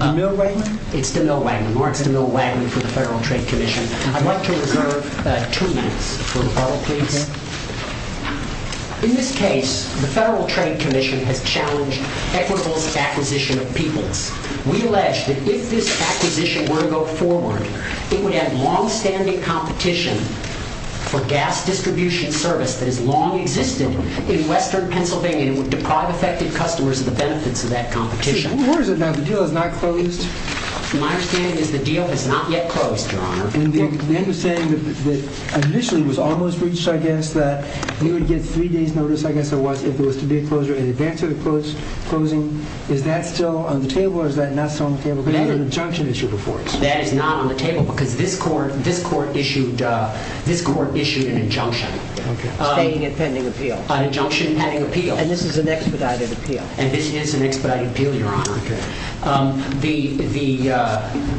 In this case, the Federal Trade Commission has challenged Equitable Acquisition of Peoples. We allege that if this acquisition were to go forward, it would have long-standing competition for gas distribution service that has long existed in western Pennsylvania and would deprive affected customers of the benefits of that competition. The deal has not yet closed, Your Honor. They were saying that initially it was almost reached, I guess, that you would get three days notice, I guess it was, if there was to be a closure in advance of the closing. Is that still on the table or is that not still on the table? That is not on the table because this court issued an injunction. Stating and pending appeal. An injunction and pending appeal. And this is an expedited appeal. And this is an expedited appeal, Your Honor.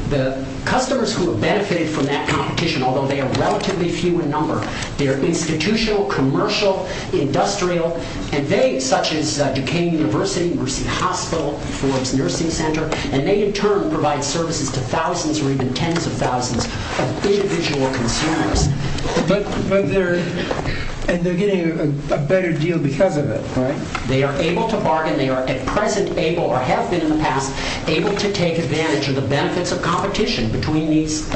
The customers who have benefited from that competition, although they are relatively few in number, they are institutional, commercial, industrial, and they, such as Duquesne University, Mercy Hospital, Forbes Nursing Center, and they in turn provide services to thousands or even tens of thousands of individual consumers. But they're getting a better deal because of it, right? They are able to bargain. They are at present able or have been in the past able to take advantage of the benefits of competition between these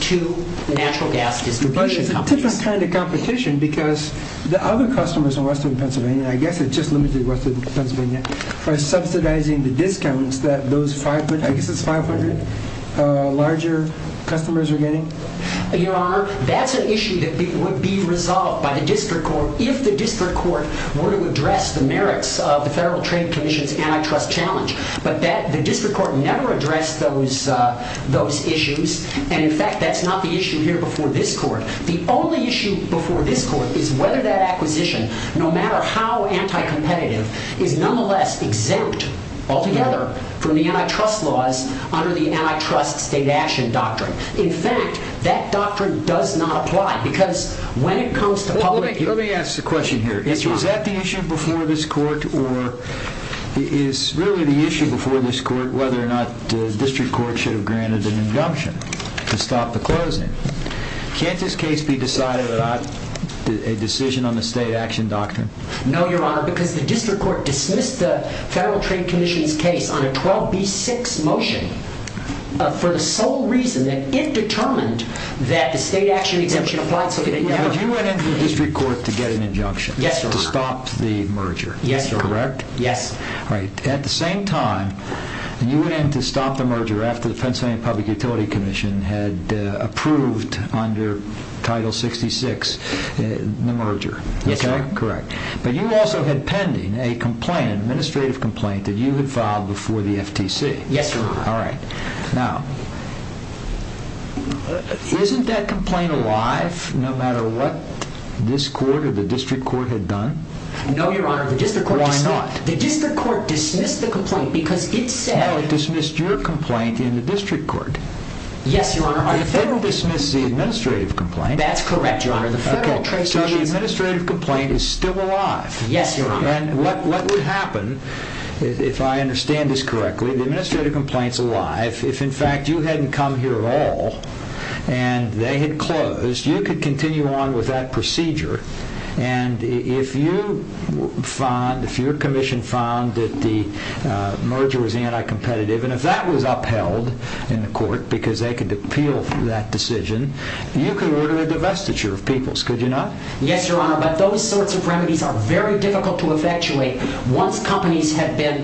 two natural gas distribution companies. But it's a different kind of competition because the other customers in western Pennsylvania, I guess it's just limited to western Pennsylvania, are subsidizing the discounts that those 500, I guess it's 500, larger customers are getting. Your Honor, that's an issue that would be resolved by the district court if the district court were to address the merits of the Federal Trade Commission's antitrust challenge. But the district court never addressed those issues. And in fact, that's not the issue here before this court. The only issue before this court is whether that acquisition, no matter how anti-competitive, is nonetheless exempt altogether from the antitrust laws under the antitrust state action doctrine. In fact, that doctrine does not apply because when it comes to public... Let me ask a question here. Is that the issue before this court or is really the issue before this court whether or not the district court should have granted an injunction to stop the closing? Can't this case be decided without a decision on the state action doctrine? No, Your Honor, because the district court dismissed the Federal Trade Commission's case on a 12B6 motion for the sole reason that it determined that the state action exemption applied so that it never... But you went into the district court to get an injunction... Yes, Your Honor. ...to stop the merger, correct? Yes. At the same time, you went in to stop the merger after the Pennsylvania Public Utility Commission had approved under Title 66 the merger, correct? Yes, Your Honor. But you also had pending an administrative complaint that you had filed before the FTC. Yes, Your Honor. All right. Now, isn't that complaint alive no matter what this court or the district court had done? No, Your Honor. Why not? The district court dismissed the complaint because it said... No, it dismissed your complaint in the district court. Yes, Your Honor. The Federal dismissed the administrative complaint. That's correct, Your Honor. So the administrative complaint is still alive. Yes, Your Honor. And what would happen, if I understand this correctly, the administrative complaint is alive. If, in fact, you hadn't come here at all and they had closed, you could continue on with that procedure. And if your commission found that the merger was anti-competitive, and if that was upheld in the court because they could appeal that decision, you could order a divestiture of people's, could you not? Yes, Your Honor. But those sorts of remedies are very difficult to effectuate once companies have been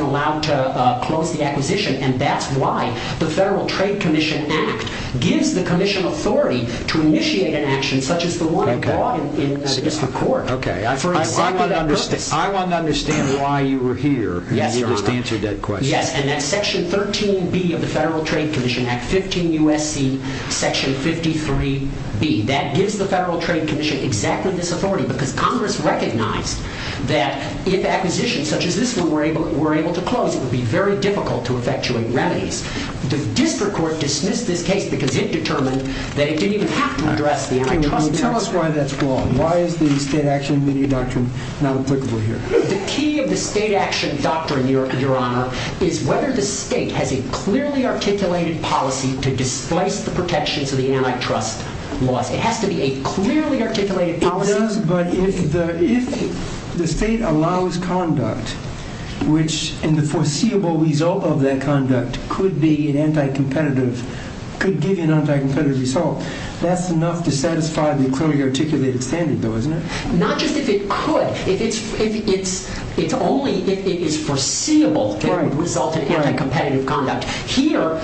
allowed to close the acquisition. And that's why the Federal Trade Commission Act gives the commission authority to initiate an action such as the one in the district court. Okay. I want to understand why you were here when you just answered that question. Yes, Your Honor. And that's Section 13B of the Federal Trade Commission Act, 15 U.S.C. Section 53B. That gives the Federal Trade Commission exactly this authority because Congress recognized that if acquisitions such as this one were able to close, it would be very difficult to effectuate remedies. The district court dismissed this case because it determined that it didn't even have to address the antitrust policy. Tell us why that's wrong. Why is the state action media doctrine not applicable here? The key of the state action doctrine, Your Honor, is whether the state has a clearly articulated policy to displace the protections of the antitrust laws. It has to be a clearly articulated policy. It does, but if the state allows conduct, which in the foreseeable result of that conduct could be an anti-competitive, could give you an anti-competitive result, that's enough to satisfy the clearly articulated standard, though, isn't it? Not just if it could. It's only if it is foreseeable that it would result in anti-competitive conduct. Here,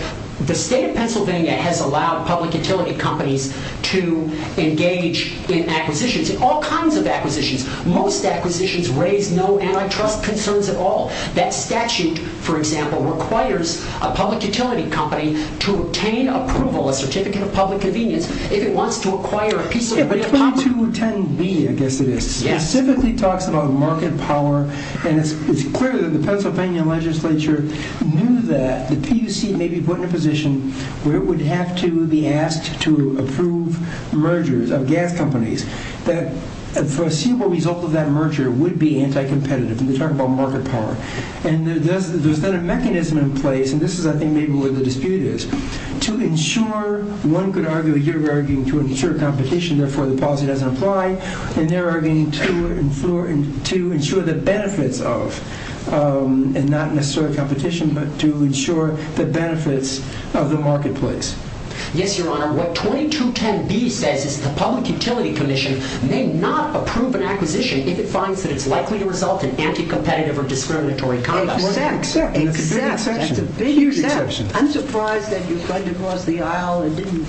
the state of Pennsylvania has allowed public utility companies to engage in acquisitions, in all kinds of acquisitions. Most acquisitions raise no antitrust concerns at all. That statute, for example, requires a public utility company to obtain approval, a certificate of public convenience, if it wants to acquire a piece of public property. Yeah, but 2210B, I guess it is, specifically talks about market power, and it's clear that the Pennsylvania legislature knew that the PUC may be put in a position where it would have to be asked to approve mergers of gas companies, that a foreseeable result of that merger would be anti-competitive. And they talk about market power. And there's then a mechanism in place, and this is, I think, maybe where the dispute is, to ensure, one could argue, you're arguing to ensure competition, therefore the policy doesn't apply, and they're arguing to ensure the benefits of, and not necessarily competition, but to ensure the benefits of the marketplace. Yes, Your Honor. What 2210B says is the Public Utility Commission may not approve an acquisition if it finds that it's likely to result in anti-competitive or discriminatory conduct. Exactly. That's a big exception. That's a huge exception. I'm surprised that you went across the aisle and didn't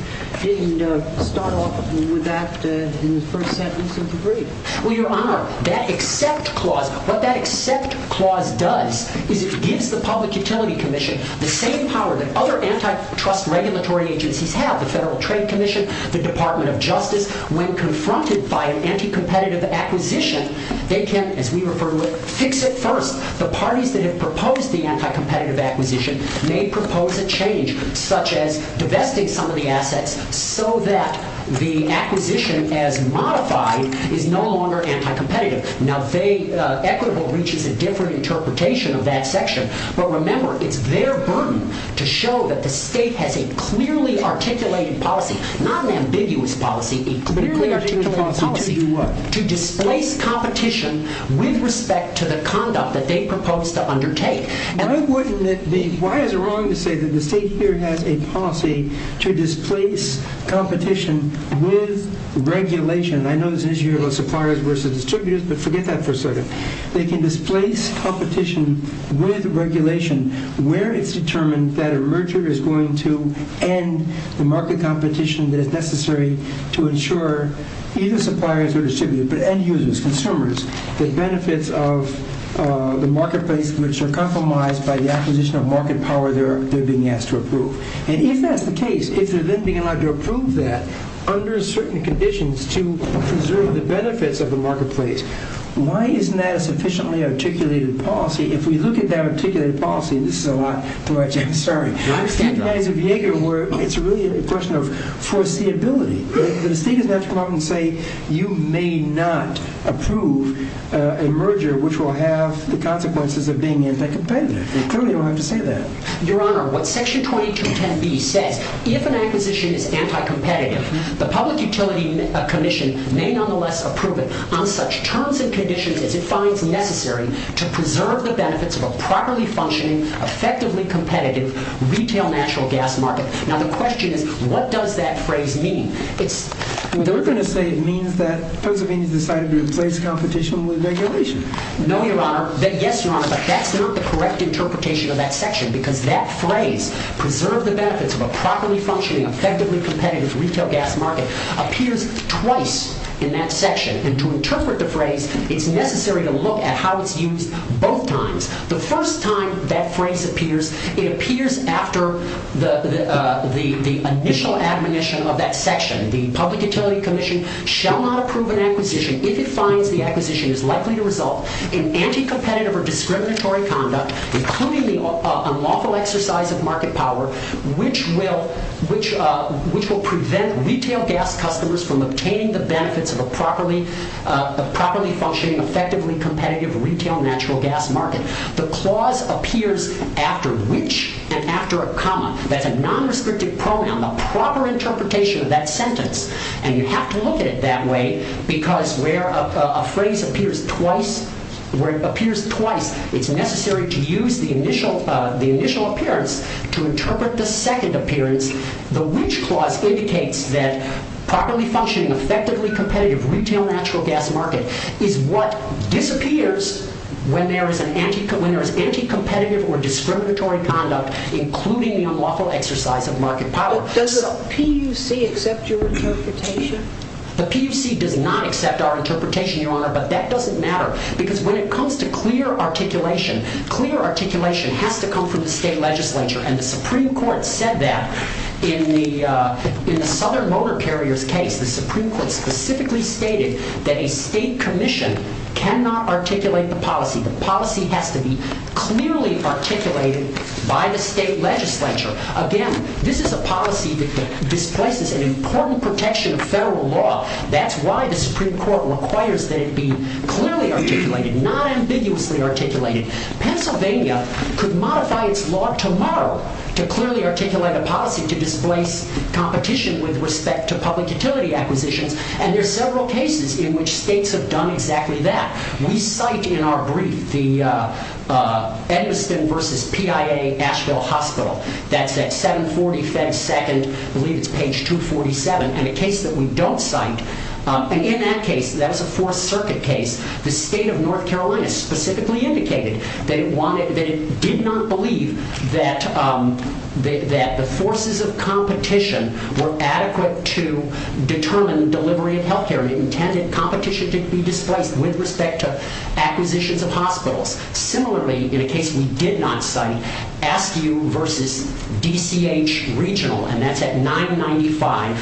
start off with that in the first sentence of the brief. Well, Your Honor, that accept clause, what that accept clause does is it gives the Public Utility Commission the same power that other antitrust regulatory agencies have, the Federal Trade Commission, the Department of Justice, when confronted by an anti-competitive acquisition, they can, as we refer to it, fix it first. The parties that have proposed the anti-competitive acquisition may propose a change, such as divesting some of the assets so that the acquisition, as modified, is no longer anti-competitive. Now, equitable reaches a different interpretation of that section, but remember, it's their burden to show that the state has a clearly articulated policy, not an ambiguous policy, a clearly articulated policy to displace competition with respect to the conduct that they propose to undertake. Why is it wrong to say that the state here has a policy to displace competition with regulation? I know there's an issue about suppliers versus distributors, but forget that for a second. They can displace competition with regulation where it's determined that a merger is going to end the market competition that is necessary to ensure either suppliers or distributors, but end-users, consumers, the benefits of the marketplace which are compromised by the acquisition of market power they're being asked to approve. And if that's the case, if they're then being allowed to approve that under certain conditions to preserve the benefits of the marketplace, why isn't that a sufficiently articulated policy? If we look at that articulated policy, and this is a lot to watch, I'm sorry, it's really a question of foreseeability. The state is going to have to come up and say, you may not approve a merger which will have the consequences of being anti-competitive. They clearly don't have to say that. Your Honor, what section 2210B says, if an acquisition is anti-competitive, the public utility commission may nonetheless approve it on such terms and conditions as it finds necessary to preserve the benefits of a properly functioning, effectively competitive, retail natural gas market. Now the question is, what does that phrase mean? They're going to say it means that Pennsylvania has decided to replace competition with regulation. No, Your Honor. Yes, Your Honor, but that's not the correct interpretation of that section because that phrase, preserve the benefits of a properly functioning, effectively competitive retail gas market, appears twice in that section. And to interpret the phrase, it's necessary to look at how it's used both times. The first time that phrase appears, it appears after the initial admonition of that section. The public utility commission shall not approve an acquisition if it finds the acquisition is likely to result in anti-competitive or discriminatory conduct, including the unlawful exercise of market power, which will prevent retail gas customers from obtaining the benefits of a properly functioning, effectively competitive, retail natural gas market. The clause appears after which and after a comma. That's a non-rescriptive pronoun, the proper interpretation of that sentence. And you have to look at it that way because where a phrase appears twice, it's necessary to use the initial appearance to interpret the second appearance. The which clause indicates that properly functioning, effectively competitive, retail natural gas market is what disappears when there is anti-competitive or discriminatory conduct, including the unlawful exercise of market power. Does the PUC accept your interpretation? The PUC does not accept our interpretation, Your Honor, but that doesn't matter because when it comes to clear articulation, clear articulation has to come from the state legislature. And the Supreme Court said that in the Southern Motor Carriers case. The Supreme Court specifically stated that a state commission cannot articulate the policy. The policy has to be clearly articulated by the state legislature. Again, this is a policy that displaces an important protection of federal law. That's why the Supreme Court requires that it be clearly articulated, not ambiguously articulated. Pennsylvania could modify its law tomorrow to clearly articulate a policy to displace competition with respect to public utility acquisitions. And there are several cases in which states have done exactly that. We cite in our brief the Edmiston versus PIA Asheville Hospital. That's at 740 Fed Second, I believe it's page 247, and a case that we don't cite. And in that case, that is a Fourth Circuit case. The state of North Carolina specifically indicated that it wanted, or didn't believe, that the forces of competition were adequate to determine delivery of health care. It intended competition to be displaced with respect to acquisitions of hospitals. Similarly, in a case we did not cite, Askew versus DCH Regional. And that's at 995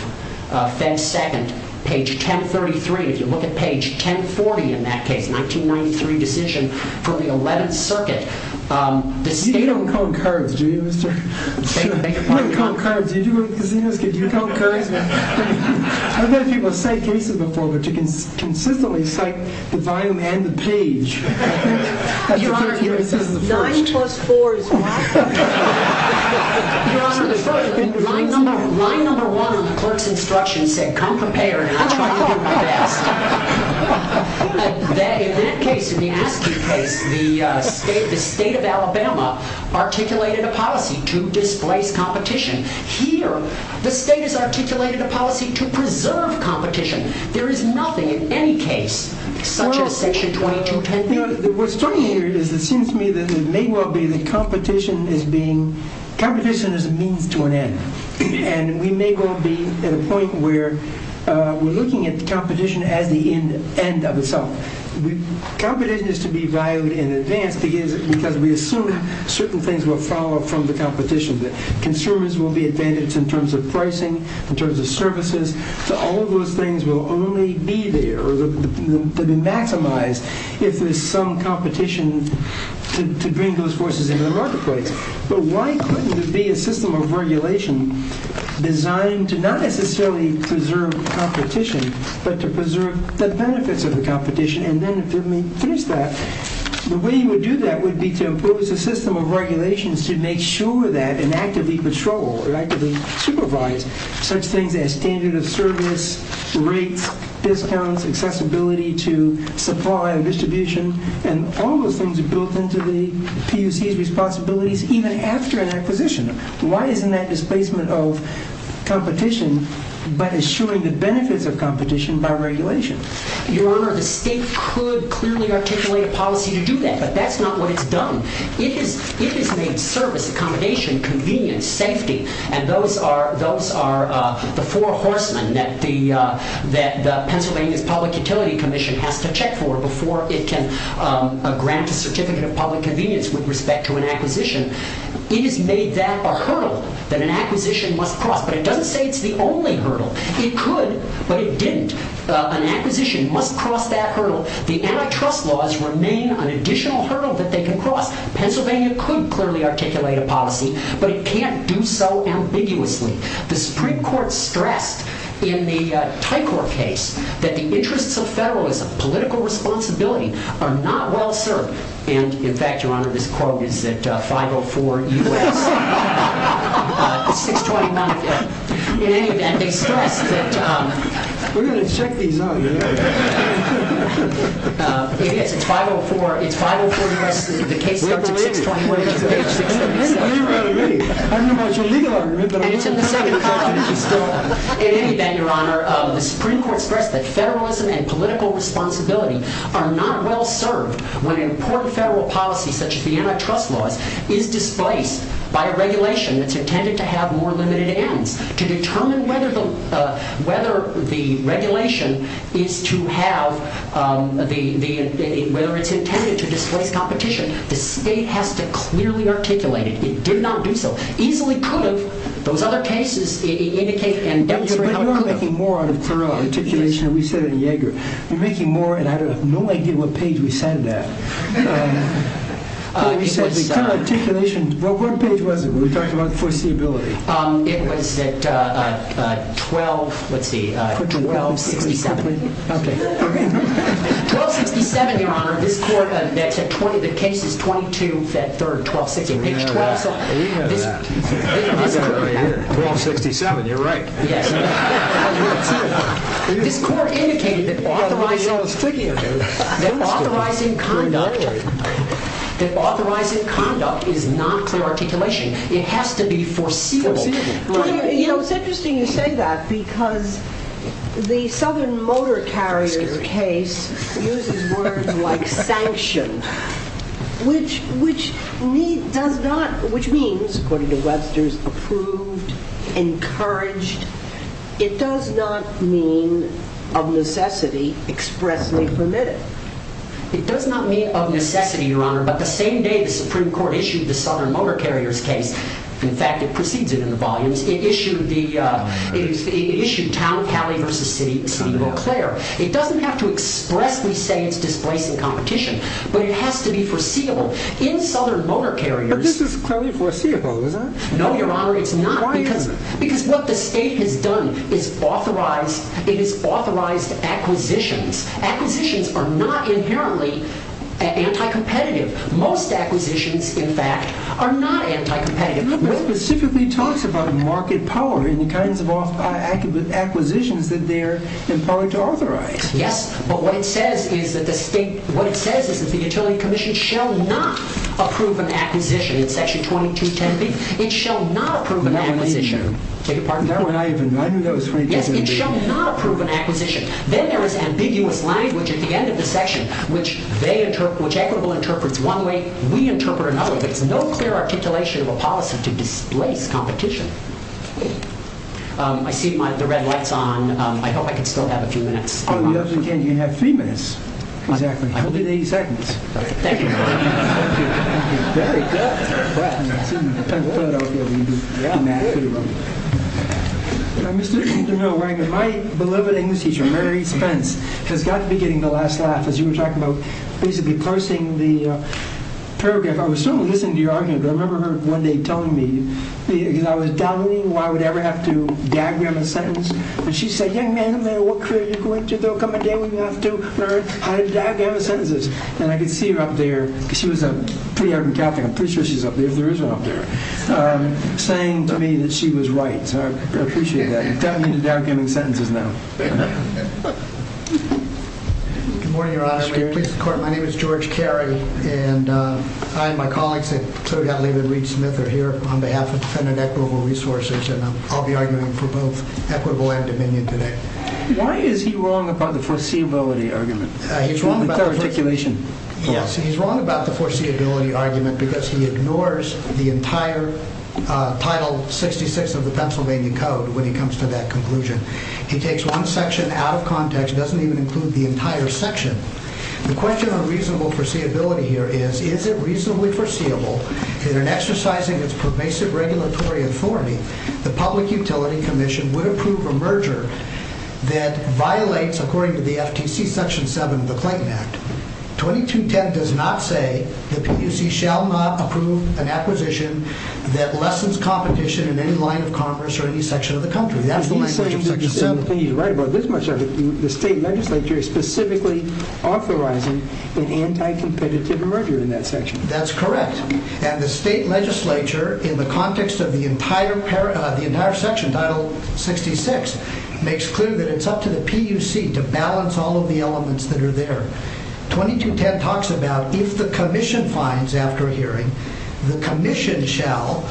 Fed Second, page 1033. If you look at page 1040 in that case, 1993 decision from the 11th Circuit, You don't count cards, do you, mister? You don't count cards. Do you go to casinos? Can you count cards? I've had people cite cases before, but to consistently cite the volume and the page. Your Honor, 9 plus 4 is 1. Your Honor, line number 1 on the clerk's instruction said, Come prepared, I'm trying to do my best. In that case, in the Askew case, the state of Alabama articulated a policy to displace competition. Here, the state has articulated a policy to preserve competition. There is nothing in any case, such as section 2210b. What's funny here is that it seems to me that it may well be that competition is a means to an end. And we may well be at a point where we're looking at competition as the end of itself. Competition is to be valued in advance because we assume certain things will follow from the competition. Consumers will be advantaged in terms of pricing, in terms of services. All of those things will only be there to be maximized if there's some competition to bring those forces into the marketplace. But why couldn't there be a system of regulation designed to not necessarily preserve competition, but to preserve the benefits of the competition? And then, if you let me finish that, the way you would do that would be to impose a system of regulations to make sure that and actively patrol or actively supervise such things as standard of service, rates, discounts, accessibility to supply and distribution, and all those things are built into the PUC's responsibilities even after an acquisition. Why isn't that displacement of competition but assuring the benefits of competition by regulation? Your Honor, the state could clearly articulate a policy to do that, but that's not what it's done. It has made service, accommodation, convenience, safety, and those are the four horsemen that the Pennsylvania's Public Utility Commission has to check for before it can grant a certificate of public convenience with respect to an acquisition. It has made that a hurdle that an acquisition must cross. But it doesn't say it's the only hurdle. It could, but it didn't. An acquisition must cross that hurdle. The antitrust laws remain an additional hurdle that they can cross. Pennsylvania could clearly articulate a policy, but it can't do so ambiguously. The Supreme Court stressed in the Tycor case that the interests of federalism, political responsibility, are not well served. And, in fact, Your Honor, this quote is at 504 U.S. 629. In any event, they stressed that... We're going to check these out. It is. It's 504 U.S. The case starts at 629. I don't know about your legal argument, but I'm going to check it. In any event, Your Honor, the Supreme Court stressed that federalism and political responsibility are not well served when an important federal policy, such as the antitrust laws, is displaced by a regulation that's intended to have more limited ends. To determine whether the regulation is to have... whether it's intended to displace competition, the state has to clearly articulate it. It did not do so. Easily could have. Those other cases indicate and demonstrate how it could have. You're making more out of Thoreau articulation than we said in Yeager. You're making more, and I have no idea what page we sat at. Thoreau said the current articulation... What page was it when we talked about foreseeability? It was at 1267. Okay. 1267, Your Honor. The case is 22-3, 1260. We know that. I've got it right here. 1267, you're right. This court indicated that authorizing conduct is not clear articulation. It has to be foreseeable. It's interesting you say that, because the Southern Motor Carriers case uses words like sanction, which means, according to Webster's, approved, encouraged. It does not mean of necessity, expressly permitted. It does not mean of necessity, Your Honor, but the same day the Supreme Court issued the Southern Motor Carriers case, in fact, it precedes it in the volumes, it issued Towne-Calley v. City of Eau Claire. It doesn't have to expressly say it's displacing competition, but it has to be foreseeable. In Southern Motor Carriers... But this is clearly foreseeable, is it? No, Your Honor, it's not. Why isn't it? Because what the state has done is authorized acquisitions. Acquisitions are not inherently anti-competitive. Most acquisitions, in fact, are not anti-competitive. Webster specifically talks about market power and the kinds of acquisitions that they're empowered to authorize. Yes, but what it says is that the utility commission shall not approve an acquisition in Section 2210B. It shall not approve an acquisition. That one I even knew. I knew that was 2210B. Yes, it shall not approve an acquisition. Then there is ambiguous language at the end of the section which Equitable interprets one way, we interpret another way. There's no clear articulation of a policy to displace competition. I see the red light's on. I hope I can still have a few minutes. You have three minutes, exactly. I'll give you 80 seconds. Thank you, Your Honor. Thank you. Very good. Mr. De Niro, my beloved English teacher, Mary Spence, has got to be getting the last laugh. As you were talking about basically parsing the paragraph, I was listening to your argument. I remember her one day telling me, because I was doubting why I would ever have to diagram a sentence, and she said, young man, what career are you going to come a day when you have to learn how to diagram sentences? And I could see her up there, because she was a pretty ardent Catholic, I'm pretty sure she's up there if there is one up there, saying to me that she was right. So I appreciate that. You've got me into diagramming sentences now. Good morning, Your Honor. May it please the Court, my name is George Carey, and I and my colleagues at Clued Out Leave and Reed Smith are here on behalf of Defendant Equitable Resources, and I'll be arguing for both equitable and dominion today. Why is he wrong about the foreseeability argument? He's wrong about the foreseeability argument because he ignores the entire Title 66 of the Pennsylvania Code when he comes to that conclusion. He takes one section out of context, doesn't even include the entire section. The question on reasonable foreseeability here is, is it reasonably foreseeable that in exercising its pervasive regulatory authority, the Public Utility Commission would approve a merger that violates, according to the FTC, Section 7 of the Clayton Act? 2210 does not say the PUC shall not approve an acquisition that lessens competition in any line of commerce or any section of the country. That's the language of Section 7. He's right about this much of it. The state legislature is specifically authorizing an anti-competitive merger in that section. That's correct. And the state legislature, in the context of the entire section, Title 66, makes clear that it's up to the PUC to balance all of the elements that are there. 2210 talks about, if the commission finds, after a hearing, the commission shall,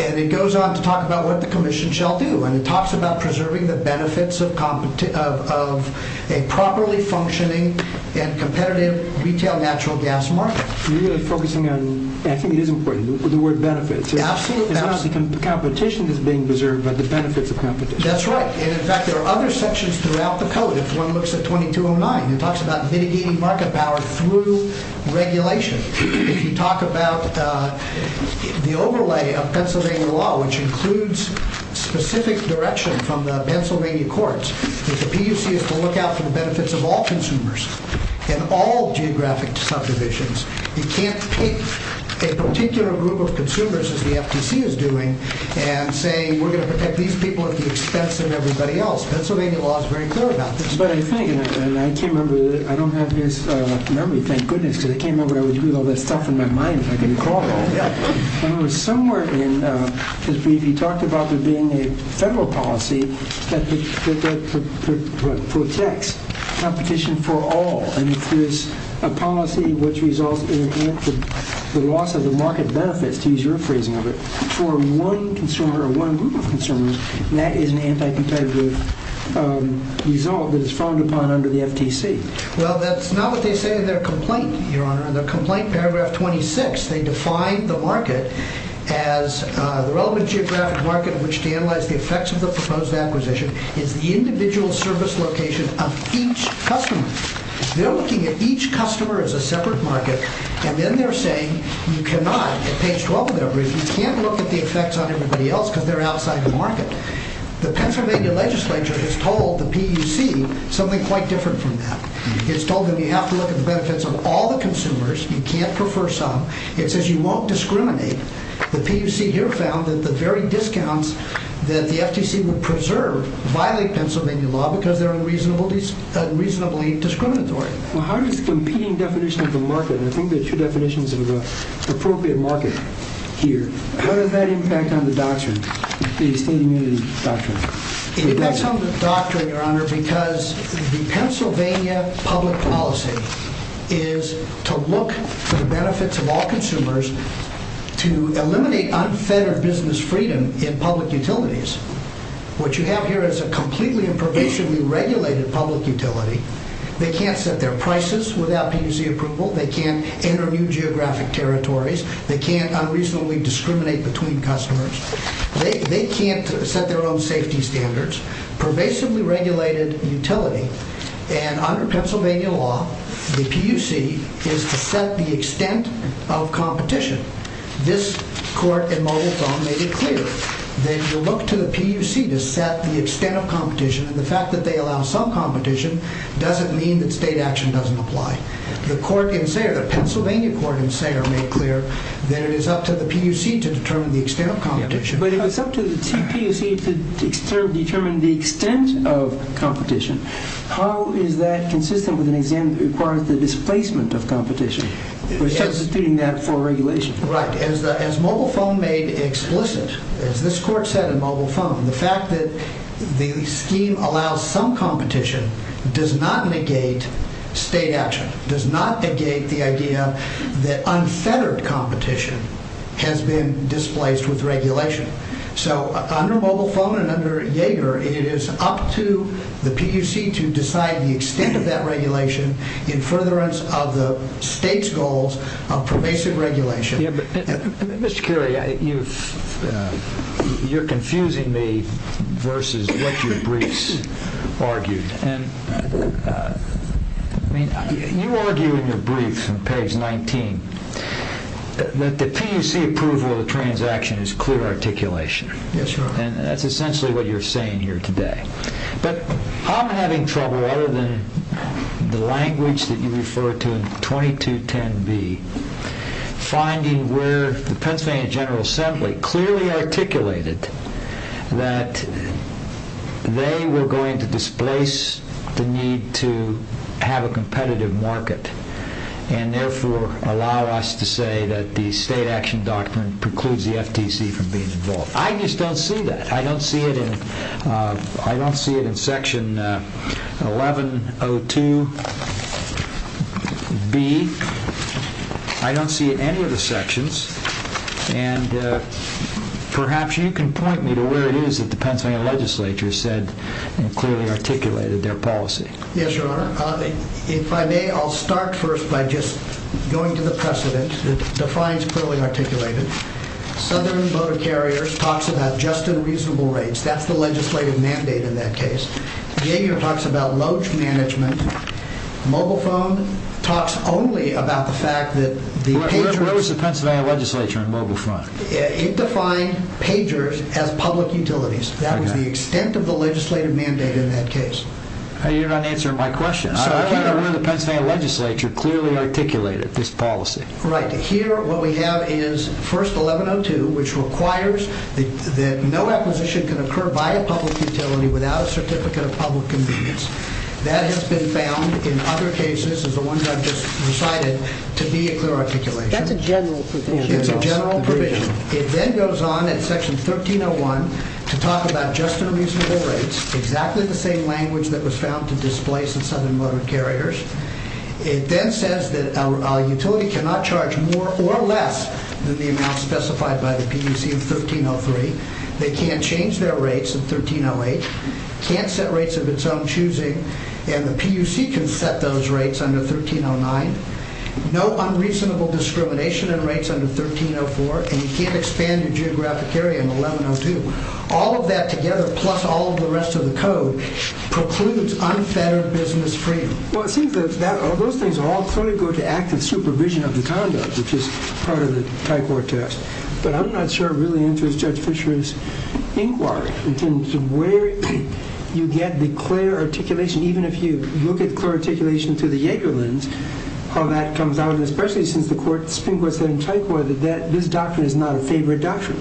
and it goes on to talk about what the commission shall do, and it talks about preserving the benefits of a properly functioning and competitive retail natural gas market. You're really focusing on, and I think it is important, the word benefits. Absolutely. It's not the competition that's being preserved, but the benefits of competition. That's right. And, in fact, there are other sections throughout the Code. If one looks at 2209, it talks about mitigating market power through regulation. If you talk about the overlay of Pennsylvania law, which includes specific direction from the Pennsylvania courts, that the PUC is to look out for the benefits of all consumers in all geographic subdivisions. You can't pick a particular group of consumers, as the FTC is doing, and say, we're going to protect these people at the expense of everybody else. Pennsylvania law is very clear about this. But I think, and I can't remember, I don't have this memory, thank goodness, because I can't remember, I was with all this stuff in my mind, if I can recall. Somewhere, you talked about there being a federal policy that protects competition for all. And if there's a policy which results in the loss of the market benefits, to use your phrasing of it, for one consumer or one group of consumers, that is an anti-competitive result that is frowned upon under the FTC. Well, that's not what they say in their complaint, Your Honor. In their complaint, paragraph 26, they define the market as, the relevant geographic market in which to analyze the effects of the proposed acquisition is the individual service location of each customer. They're looking at each customer as a separate market, and then they're saying, you cannot, at page 12 of their brief, you can't look at the effects on everybody else because they're outside the market. The Pennsylvania legislature has told the PUC something quite different from that. It's told them you have to look at the benefits of all the consumers, you can't prefer some, it says you won't discriminate. The PUC here found that the very discounts that the FTC would preserve violate Pennsylvania law because they're unreasonably discriminatory. Well, how does the competing definition of the market, and I think there are two definitions of the appropriate market here, how does that impact on the doctrine, the state immunity doctrine? It impacts on the doctrine, Your Honor, because the Pennsylvania public policy is to look for the benefits of all consumers to eliminate unfettered business freedom in public utilities. What you have here is a completely and pervasively regulated public utility. They can't set their prices without PUC approval. They can't enter new geographic territories. They can't unreasonably discriminate between customers. They can't set their own safety standards. Pervasively regulated utility, and under Pennsylvania law, the PUC is to set the extent of competition. This court in Mogulton made it clear that you look to the PUC to set the extent of competition, and the fact that they allow some competition doesn't mean that state action doesn't apply. The court in Sayre, the Pennsylvania court in Sayre made clear that it is up to the PUC to determine the extent of competition. But if it's up to the PUC to determine the extent of competition, how is that consistent with an exam that requires the displacement of competition, substituting that for regulation? Right. As Mobile Phone made explicit, as this court said in Mobile Phone, the fact that the scheme allows some competition does not negate state action, does not negate the idea that unfettered competition has been displaced with regulation. So under Mobile Phone and under Yaeger, it is up to the PUC to decide the extent of that regulation in furtherance of the state's goals of pervasive regulation. Yeah, but Mr. Currie, you're confusing me versus what your briefs argue. And, I mean, you argue in your brief from page 19 that the PUC approval of the transaction is clear articulation. Yes, Your Honor. And that's essentially what you're saying here today. But I'm having trouble, other than the language that you refer to in 2210B, finding where the Pennsylvania General Assembly clearly articulated that they were going to displace the need to have a competitive market and therefore allow us to say that the state action doctrine precludes the FTC from being involved. I just don't see that. I don't see it in Section 1102B. I don't see it in any of the sections. And perhaps you can point me to where it is that the Pennsylvania legislature said and clearly articulated their policy. Yes, Your Honor. If I may, I'll start first by just going to the precedent that defines clearly articulated. Southern Boat of Carriers talks about just and reasonable rates. That's the legislative mandate in that case. Xavier talks about lodge management. Mobile phone talks only about the fact that... Where was the Pennsylvania legislature on mobile phone? It defined pagers as public utilities. That was the extent of the legislative mandate in that case. You're not answering my question. I want to know where the Pennsylvania legislature clearly articulated this policy. Right. Here what we have is First 1102, which requires that no acquisition can occur by a public utility without a certificate of public convenience. That has been found in other cases, as the ones I've just recited, to be a clear articulation. That's a general provision. It's a general provision. It then goes on in Section 1301 to talk about just and reasonable rates, exactly the same language that was found to displace the Southern Boat of Carriers. It then says that a utility cannot charge more or less than the amount specified by the PUC in 1303. They can't change their rates in 1308, can't set rates of its own choosing, and the PUC can set those rates under 1309. No unreasonable discrimination in rates under 1304, and you can't expand your geographic area in 1102. All of that together, plus all of the rest of the code, precludes unfettered business freedom. Well, it seems that all those things are all going to go to active supervision of the conduct, which is part of the Thai Court test, but I'm not sure it really enters Judge Fisher's inquiry in terms of where you get the clear articulation, even if you look at clear articulation through the Yeager lens, how that comes out, especially since the Supreme Court said in Thai Court that this doctrine is not a favored doctrine.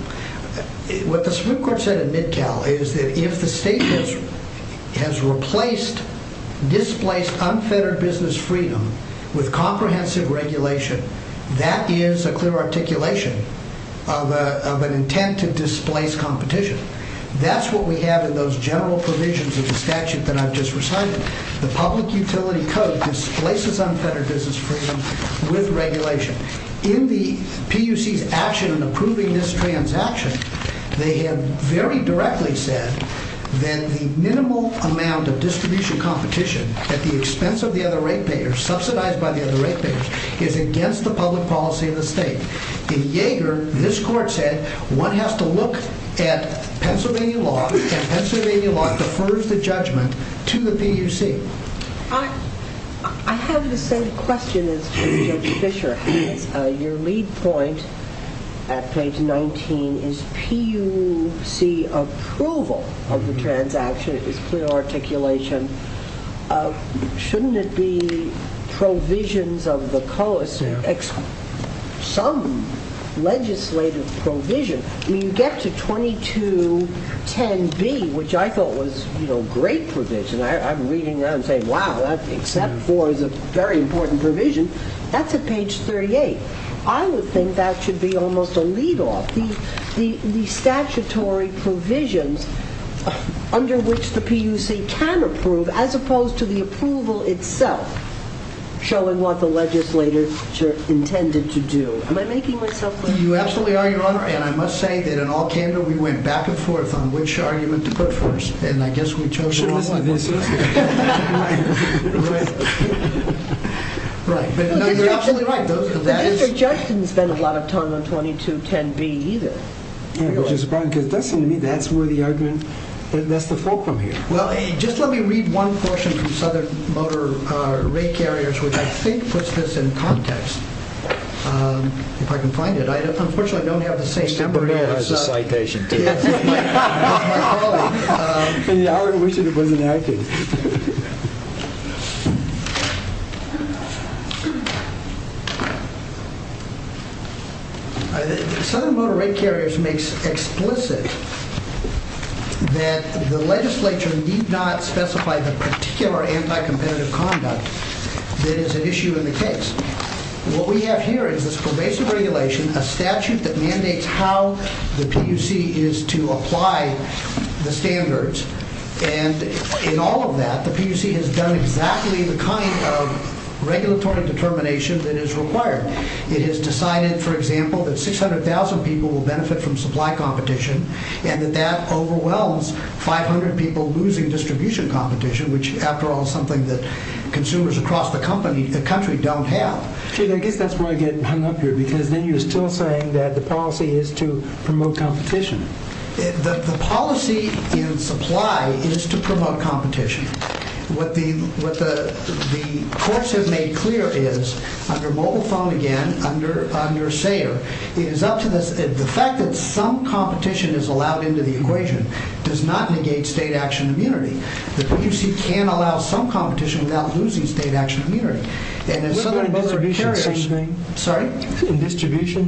What the Supreme Court said in Midtow is that if the state has replaced, displaced unfettered business freedom with comprehensive regulation, that is a clear articulation of an intent to displace competition. That's what we have in those general provisions of the statute that I've just recited. The Public Utility Code displaces unfettered business freedom with regulation. In the PUC's action in approving this transaction, they have very directly said that the minimal amount of distribution competition at the expense of the other rate payers, subsidized by the other rate payers, is against the public policy of the state. In Yeager, this court said one has to look at Pennsylvania law, and Pennsylvania law defers the judgment to the PUC. I have the same question as Judge Fisher. Your lead point at page 19 is PUC approval of the transaction. It's clear articulation. Shouldn't it be provisions of the cost, some legislative provision? When you get to 2210B, which I thought was great provision, I'm reading around saying, wow, that except for the very important provision, that's at page 38. I would think that should be almost a lead off. The statutory provisions under which the PUC can approve, as opposed to the approval itself, showing what the legislature intended to do. Am I making myself clear? You absolutely are, Your Honor, and I must say that in all candor, we went back and forth on which argument to put first, and I guess we chose the wrong one. Right. You're absolutely right. Judge didn't spend a lot of time on 2210B either. That's where the argument, that's the fulcrum here. Just let me read one portion from Southern Motor Rate Carriers, which I think puts this in context. If I can find it. Unfortunately, I don't have the same number here. It's a citation. My colleague. I wish it wasn't there. Southern Motor Rate Carriers makes explicit that the legislature need not specify the particular anti-competitive conduct that is an issue in the case. What we have here is this pervasive regulation, a statute that mandates how the PUC is to apply the standards, and in all of that, the PUC has done exactly the kind of regulatory determination that is required. It has decided, for example, that 600,000 people will benefit from supply competition and that that overwhelms 500 people losing distribution competition, which after all is something that consumers across the country don't have. I guess that's where I get hung up here because then you're still saying that the policy is to promote competition. The policy in supply is to promote competition. What the courts have made clear is, under Mobile Phone again, under Sayre, the fact that some competition is allowed into the equation does not negate state action immunity. The PUC can allow some competition without losing state action immunity. In distribution,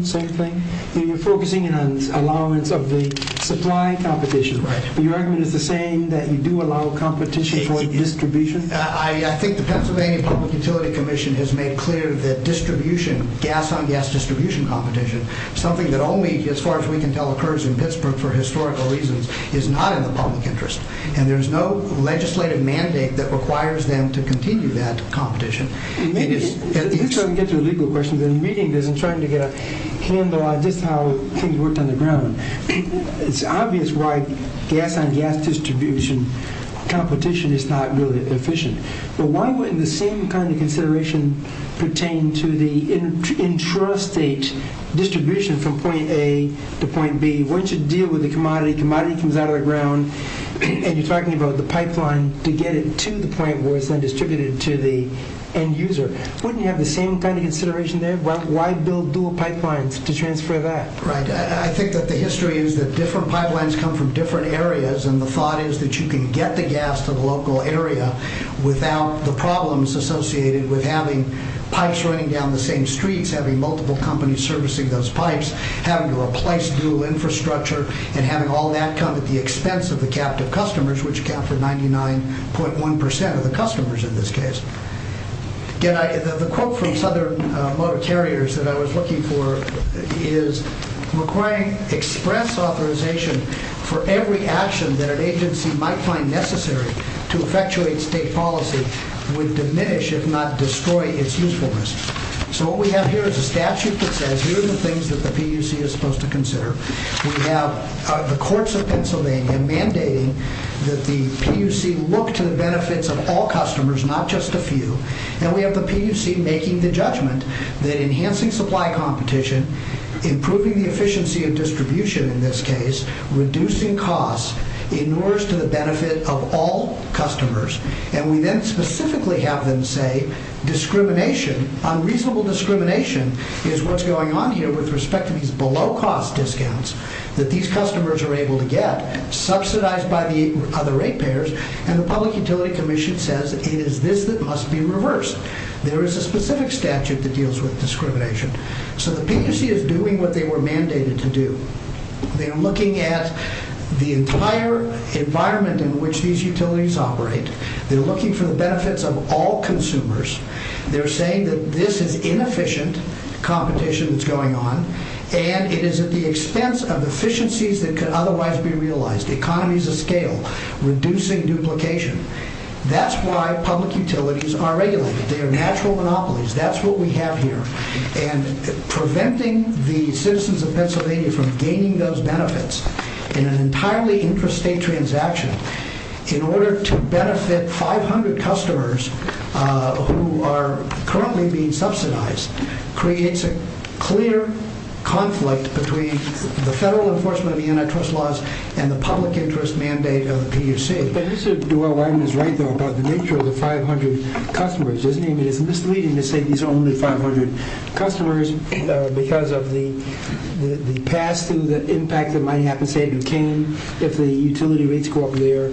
same thing? You're focusing on the allowance of the supply competition. Your argument is the same, that you do allow competition for distribution? I think the Pennsylvania Public Utility Commission has made clear that distribution, gas-on-gas distribution competition, something that only, as far as we can tell, occurs in Pittsburgh for historical reasons, is not in the public interest, and there's no legislative mandate that requires them to continue that competition. Let's try to get to the legal questions. I'm reading this and trying to get a handle on just how things worked on the ground. It's obvious why gas-on-gas distribution competition is not really efficient, but why wouldn't the same kind of consideration pertain to the intrastate distribution from point A to point B? Once you deal with the commodity, commodity comes out of the ground, and you're talking about the pipeline to get it to the point where it's then distributed to the end user. Wouldn't you have the same kind of consideration there? Why build dual pipelines to transfer that? I think that the history is that different pipelines come from different areas, and the thought is that you can get the gas to the local area without the problems associated with having pipes running down the same streets, having multiple companies servicing those pipes, having to replace dual infrastructure, and having all that come at the expense of the captive customers, which account for 99.1% of the customers in this case. The quote from Southern Motor Carriers that I was looking for is, requiring express authorization for every action that an agency might find necessary to effectuate state policy would diminish, if not destroy, its usefulness. So what we have here is a statute that says We have the courts of Pennsylvania mandating that the PUC look to the benefits of all customers, not just a few. And we have the PUC making the judgment that enhancing supply competition, improving the efficiency of distribution in this case, reducing costs, inures to the benefit of all customers. And we then specifically have them say, discrimination, unreasonable discrimination, is what's going on here with respect to these below-cost discounts that these customers are able to get subsidized by the other ratepayers. And the Public Utility Commission says it is this that must be reversed. There is a specific statute that deals with discrimination. So the PUC is doing what they were mandated to do. They're looking at the entire environment in which these utilities operate. They're looking for the benefits of all consumers. They're saying that this is inefficient competition that's going on, and it is at the expense of efficiencies that could otherwise be realized, economies of scale, reducing duplication. That's why public utilities are regulated. They are natural monopolies. That's what we have here. And preventing the citizens of Pennsylvania from gaining those benefits in an entirely intrastate transaction in order to benefit 500 customers who are currently being subsidized creates a clear conflict between the federal enforcement of the antitrust laws and the public interest mandate of the PUC. But Mr. Dwyer-Wyman is right, though, about the nature of the 500 customers, isn't he? I mean, it's misleading to say these are only 500 customers because of the pass-through, the impact that might happen, say, in Duquesne if the utility rates go up there.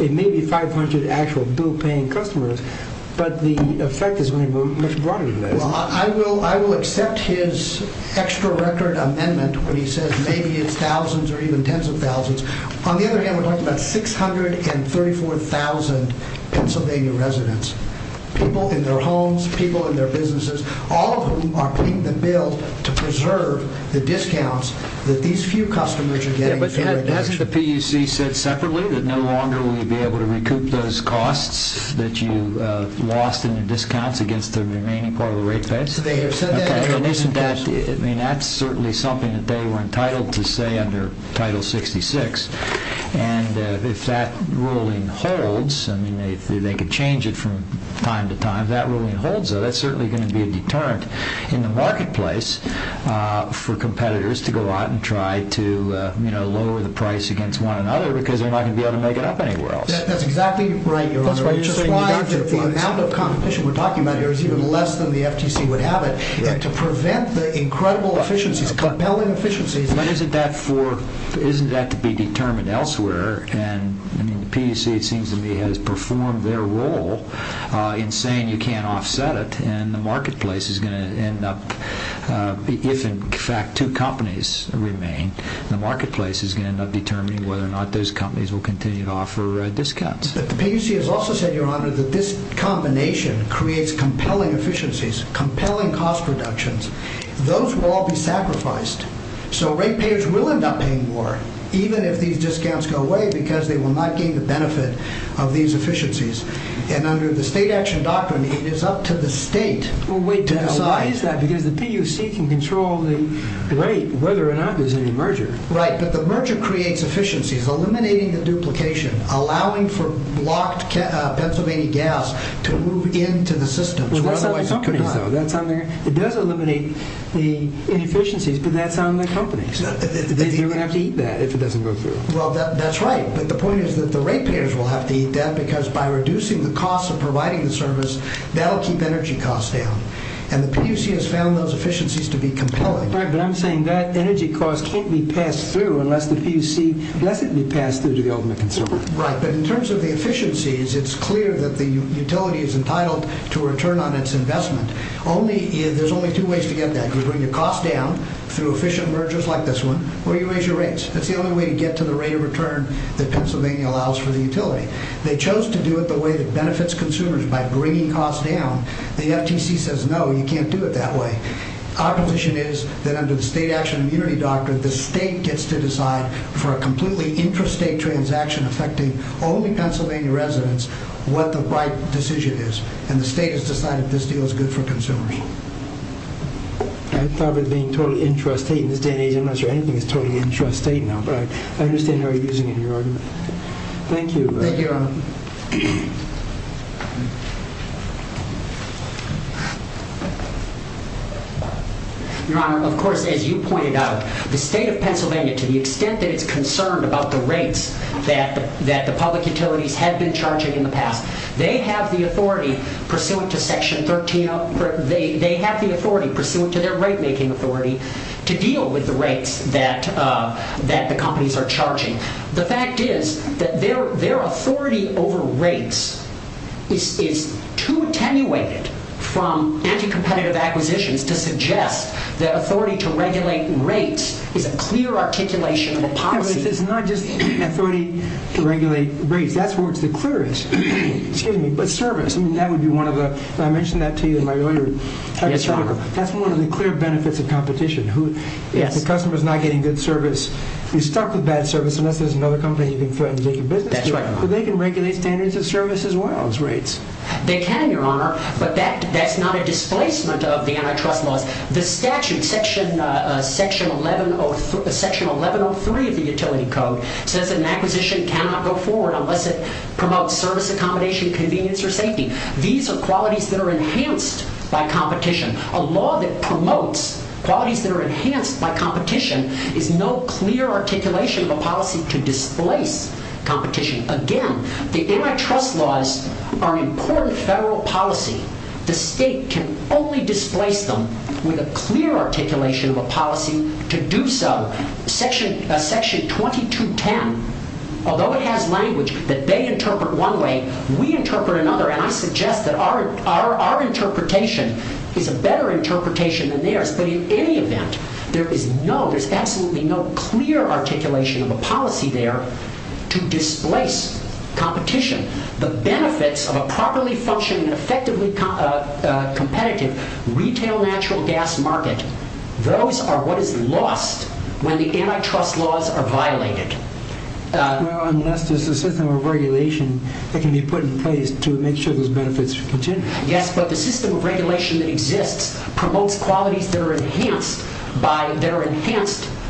It may be 500 actual bill-paying customers, but the effect is going to be much broader than that. Well, I will accept his extra-record amendment when he says maybe it's thousands or even tens of thousands. On the other hand, we're talking about 634,000 Pennsylvania residents, people in their homes, people in their businesses, all of whom are paying the bill to preserve the discounts that these few customers are getting. Yeah, but hasn't the PUC said separately that no longer will you be able to recoup those costs that you lost in your discounts against the remaining part of the rate base? They have said that. That's certainly something that they were entitled to say under Title 66. And if that ruling holds, if they could change it from time to time, if that ruling holds, that's certainly going to be a deterrent in the marketplace for competitors to go out and try to lower the price against one another because they're not going to be able to make it up anywhere else. That's exactly right, Your Honor. The amount of competition we're talking about here is even less than the FTC would have it. And to prevent the incredible efficiencies, compelling efficiencies... But isn't that to be determined elsewhere? And the PUC, it seems to me, has performed their role in saying you can't offset it. And the marketplace is going to end up, if in fact two companies remain, the marketplace is going to end up determining whether or not those companies will continue to offer discounts. But the PUC has also said, Your Honor, that this combination creates compelling efficiencies, compelling cost reductions. Those will all be sacrificed. So ratepayers will end up paying more, even if these discounts go away because they will not gain the benefit of these efficiencies. And under the State Action Doctrine, it is up to the State to decide. Well, wait a minute. Why is that? Because the PUC can control the rate, whether or not there's any merger. Right, but the merger creates efficiencies, eliminating the duplication, allowing for blocked Pennsylvania gas to move into the system. Well, that's on the companies, though. It does eliminate the inefficiencies, but that's on the companies. They're going to have to eat that if it doesn't go through. Well, that's right. But the point is that the ratepayers will have to eat that because by reducing the cost of providing the service, they'll keep energy costs down. And the PUC has found those efficiencies to be compelling. Right, but I'm saying that energy cost can't be passed through unless the PUC lets it be passed through to the ultimate consumer. Right, but in terms of the efficiencies, it's clear that the utility is entitled to return on its investment. There's only two ways to get that. You bring the cost down through efficient mergers like this one, or you raise your rates. That's the only way to get to the rate of return that Pennsylvania allows for the utility. They chose to do it the way that benefits consumers, by bringing costs down. The FTC says, no, you can't do it that way. Our position is that under the State Action Immunity Doctrine, the State gets to decide for a completely intrastate transaction affecting only Pennsylvania residents what the right decision is. And the State has decided this deal is good for consumers. I thought it was being totally intrastate in this day and age. I'm not sure anything is totally intrastate now. But I understand how you're using it in your argument. Thank you. Thank you, Your Honor. Your Honor, of course, as you pointed out, the State of Pennsylvania, to the extent that it's concerned about the rates that the public utilities have been charging in the past, they have the authority, pursuant to Section 13, they have the authority, pursuant to their rate-making authority, to deal with the rates that the companies are charging. The fact is that their authority over rates is too attenuated from anti-competitive acquisitions to suggest that authority to regulate rates is a clear articulation of a policy. But it's not just authority to regulate rates. That's where it's the clearest. Excuse me, but service, I mean, that would be one of the, I mentioned that to you in my earlier article. Yes, Your Honor. That's one of the clear benefits of competition. If the customer is not getting good service, if you're stuck with bad service, unless there's another company you can threaten to take your business to, they can regulate standards of service as well as rates. They can, Your Honor, but that's not a displacement of the antitrust laws. The statute, Section 1103 of the Utility Code, says that an acquisition cannot go forward unless it promotes service accommodation, convenience, or safety. These are qualities that are enhanced by competition. A law that promotes qualities that are enhanced by competition is no clear articulation of a policy to displace competition. Again, the antitrust laws are an important federal policy. The state can only displace them with a clear articulation of a policy to do so. Section 2210, although it has language that they interpret one way, we interpret another, and I suggest that our interpretation is a better interpretation than theirs. But in any event, there's absolutely no clear articulation of a policy there to displace competition. The benefits of a properly functioning and effectively competitive retail natural gas market, those are what is lost when the antitrust laws are violated. Well, unless there's a system of regulation that can be put in place to make sure those benefits continue. Yes, but the system of regulation that exists promotes qualities that are enhanced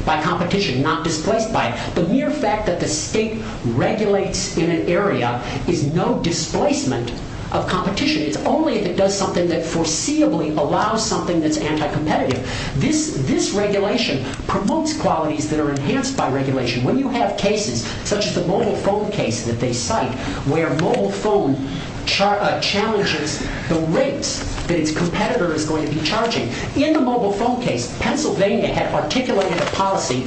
by competition, not displaced by it. The mere fact that the state regulates in an area is no displacement of competition. It's only if it does something that foreseeably allows something that's anti-competitive. This regulation promotes qualities that are enhanced by regulation. When you have cases, such as the mobile phone case that they cite, where mobile phone challenges the rates that its competitor is going to be charging. In the mobile phone case, Pennsylvania had articulated a policy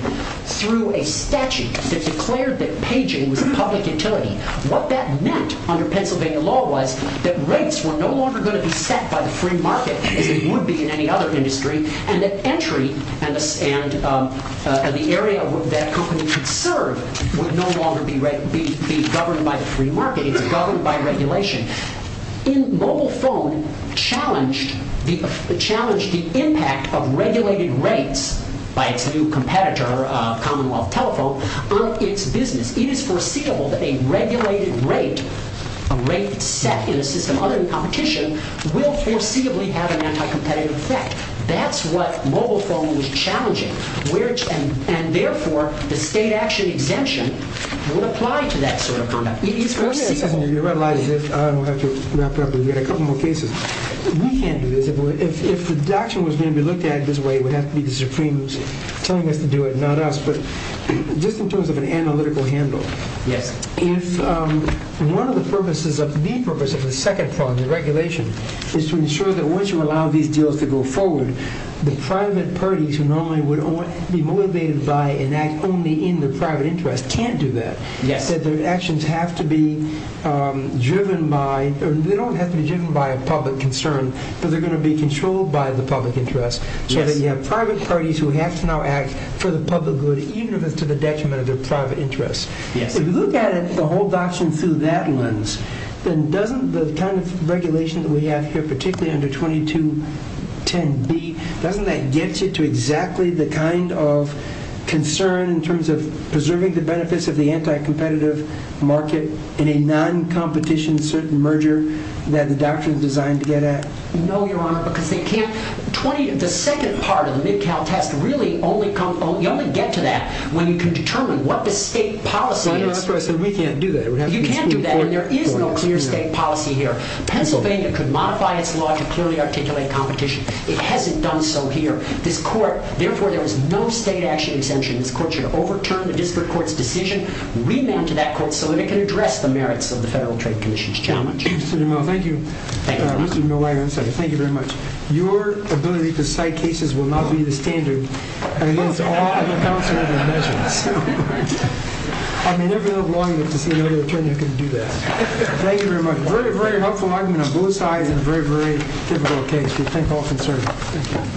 through a statute that declared that paging was a public utility. What that meant under Pennsylvania law was that rates were no longer going to be set by the free market as they would be in any other industry, and that entry and the area that a company could serve would no longer be governed by the free market. It's governed by regulation. Mobile phone challenged the impact of regulated rates by its new competitor, Commonwealth Telephone, on its business. It is foreseeable that a regulated rate, a rate set in a system other than competition, will foreseeably have an anti-competitive effect. That's what mobile phone was challenging. And therefore, the state action exemption would apply to that sort of conduct. It is foreseeable. I don't have to wrap it up. We've got a couple more cases. We can't do this. If the doctrine was going to be looked at this way, it would have to be the Supremes telling us to do it, not us. But just in terms of an analytical handle, if one of the purposes of the second part of the regulation is to ensure that once you allow these deals to go forward, the private parties who normally would be motivated by and act only in their private interest can't do that. Their actions don't have to be driven by a public concern, but they're going to be controlled by the public interest. So you have private parties who have to now act for the public good, even if it's to the detriment of their private interests. If you look at the whole doctrine through that lens, then doesn't the kind of regulation that we have here, particularly under 2210B, doesn't that get you to exactly the kind of concern in terms of preserving the benefits of the anti-competitive market in a non-competition merger that the doctrine is designed to get at? No, Your Honor, because the second part of the Mid-Cal test, you only get to that when you can determine what the state policy is. But we can't do that. You can't do that, and there is no clear state policy here. Pennsylvania could modify its law to clearly articulate competition. It hasn't done so here. This court, therefore, there is no state action exemption. This court should overturn the district court's decision, remand to that court so that it can address the merits of the Federal Trade Commission's challenge. Mr. DeMille, thank you. Thank you, Your Honor. Mr. DeMille, thank you very much. Your ability to cite cases will not be the standard against all other counsel in the measures. I may never live long enough to see another attorney who can do that. Thank you very much. A very, very helpful argument on both sides and a very, very difficult case to think of and serve. Thank you.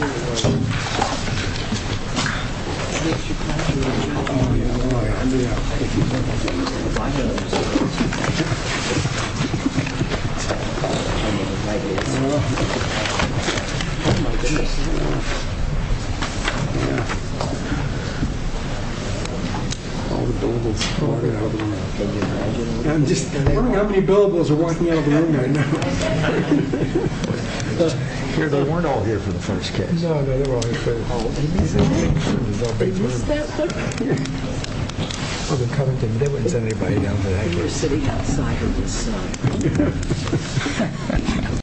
I'm just wondering how many billables are walking out of the room right now. They weren't all here for the first case. No, they were all here for the whole case. I'm just not being nervous. Is that what you're saying? Well, they're coming to me. They wouldn't send anybody down today. You're sitting outside of this. Thank you. Thank you.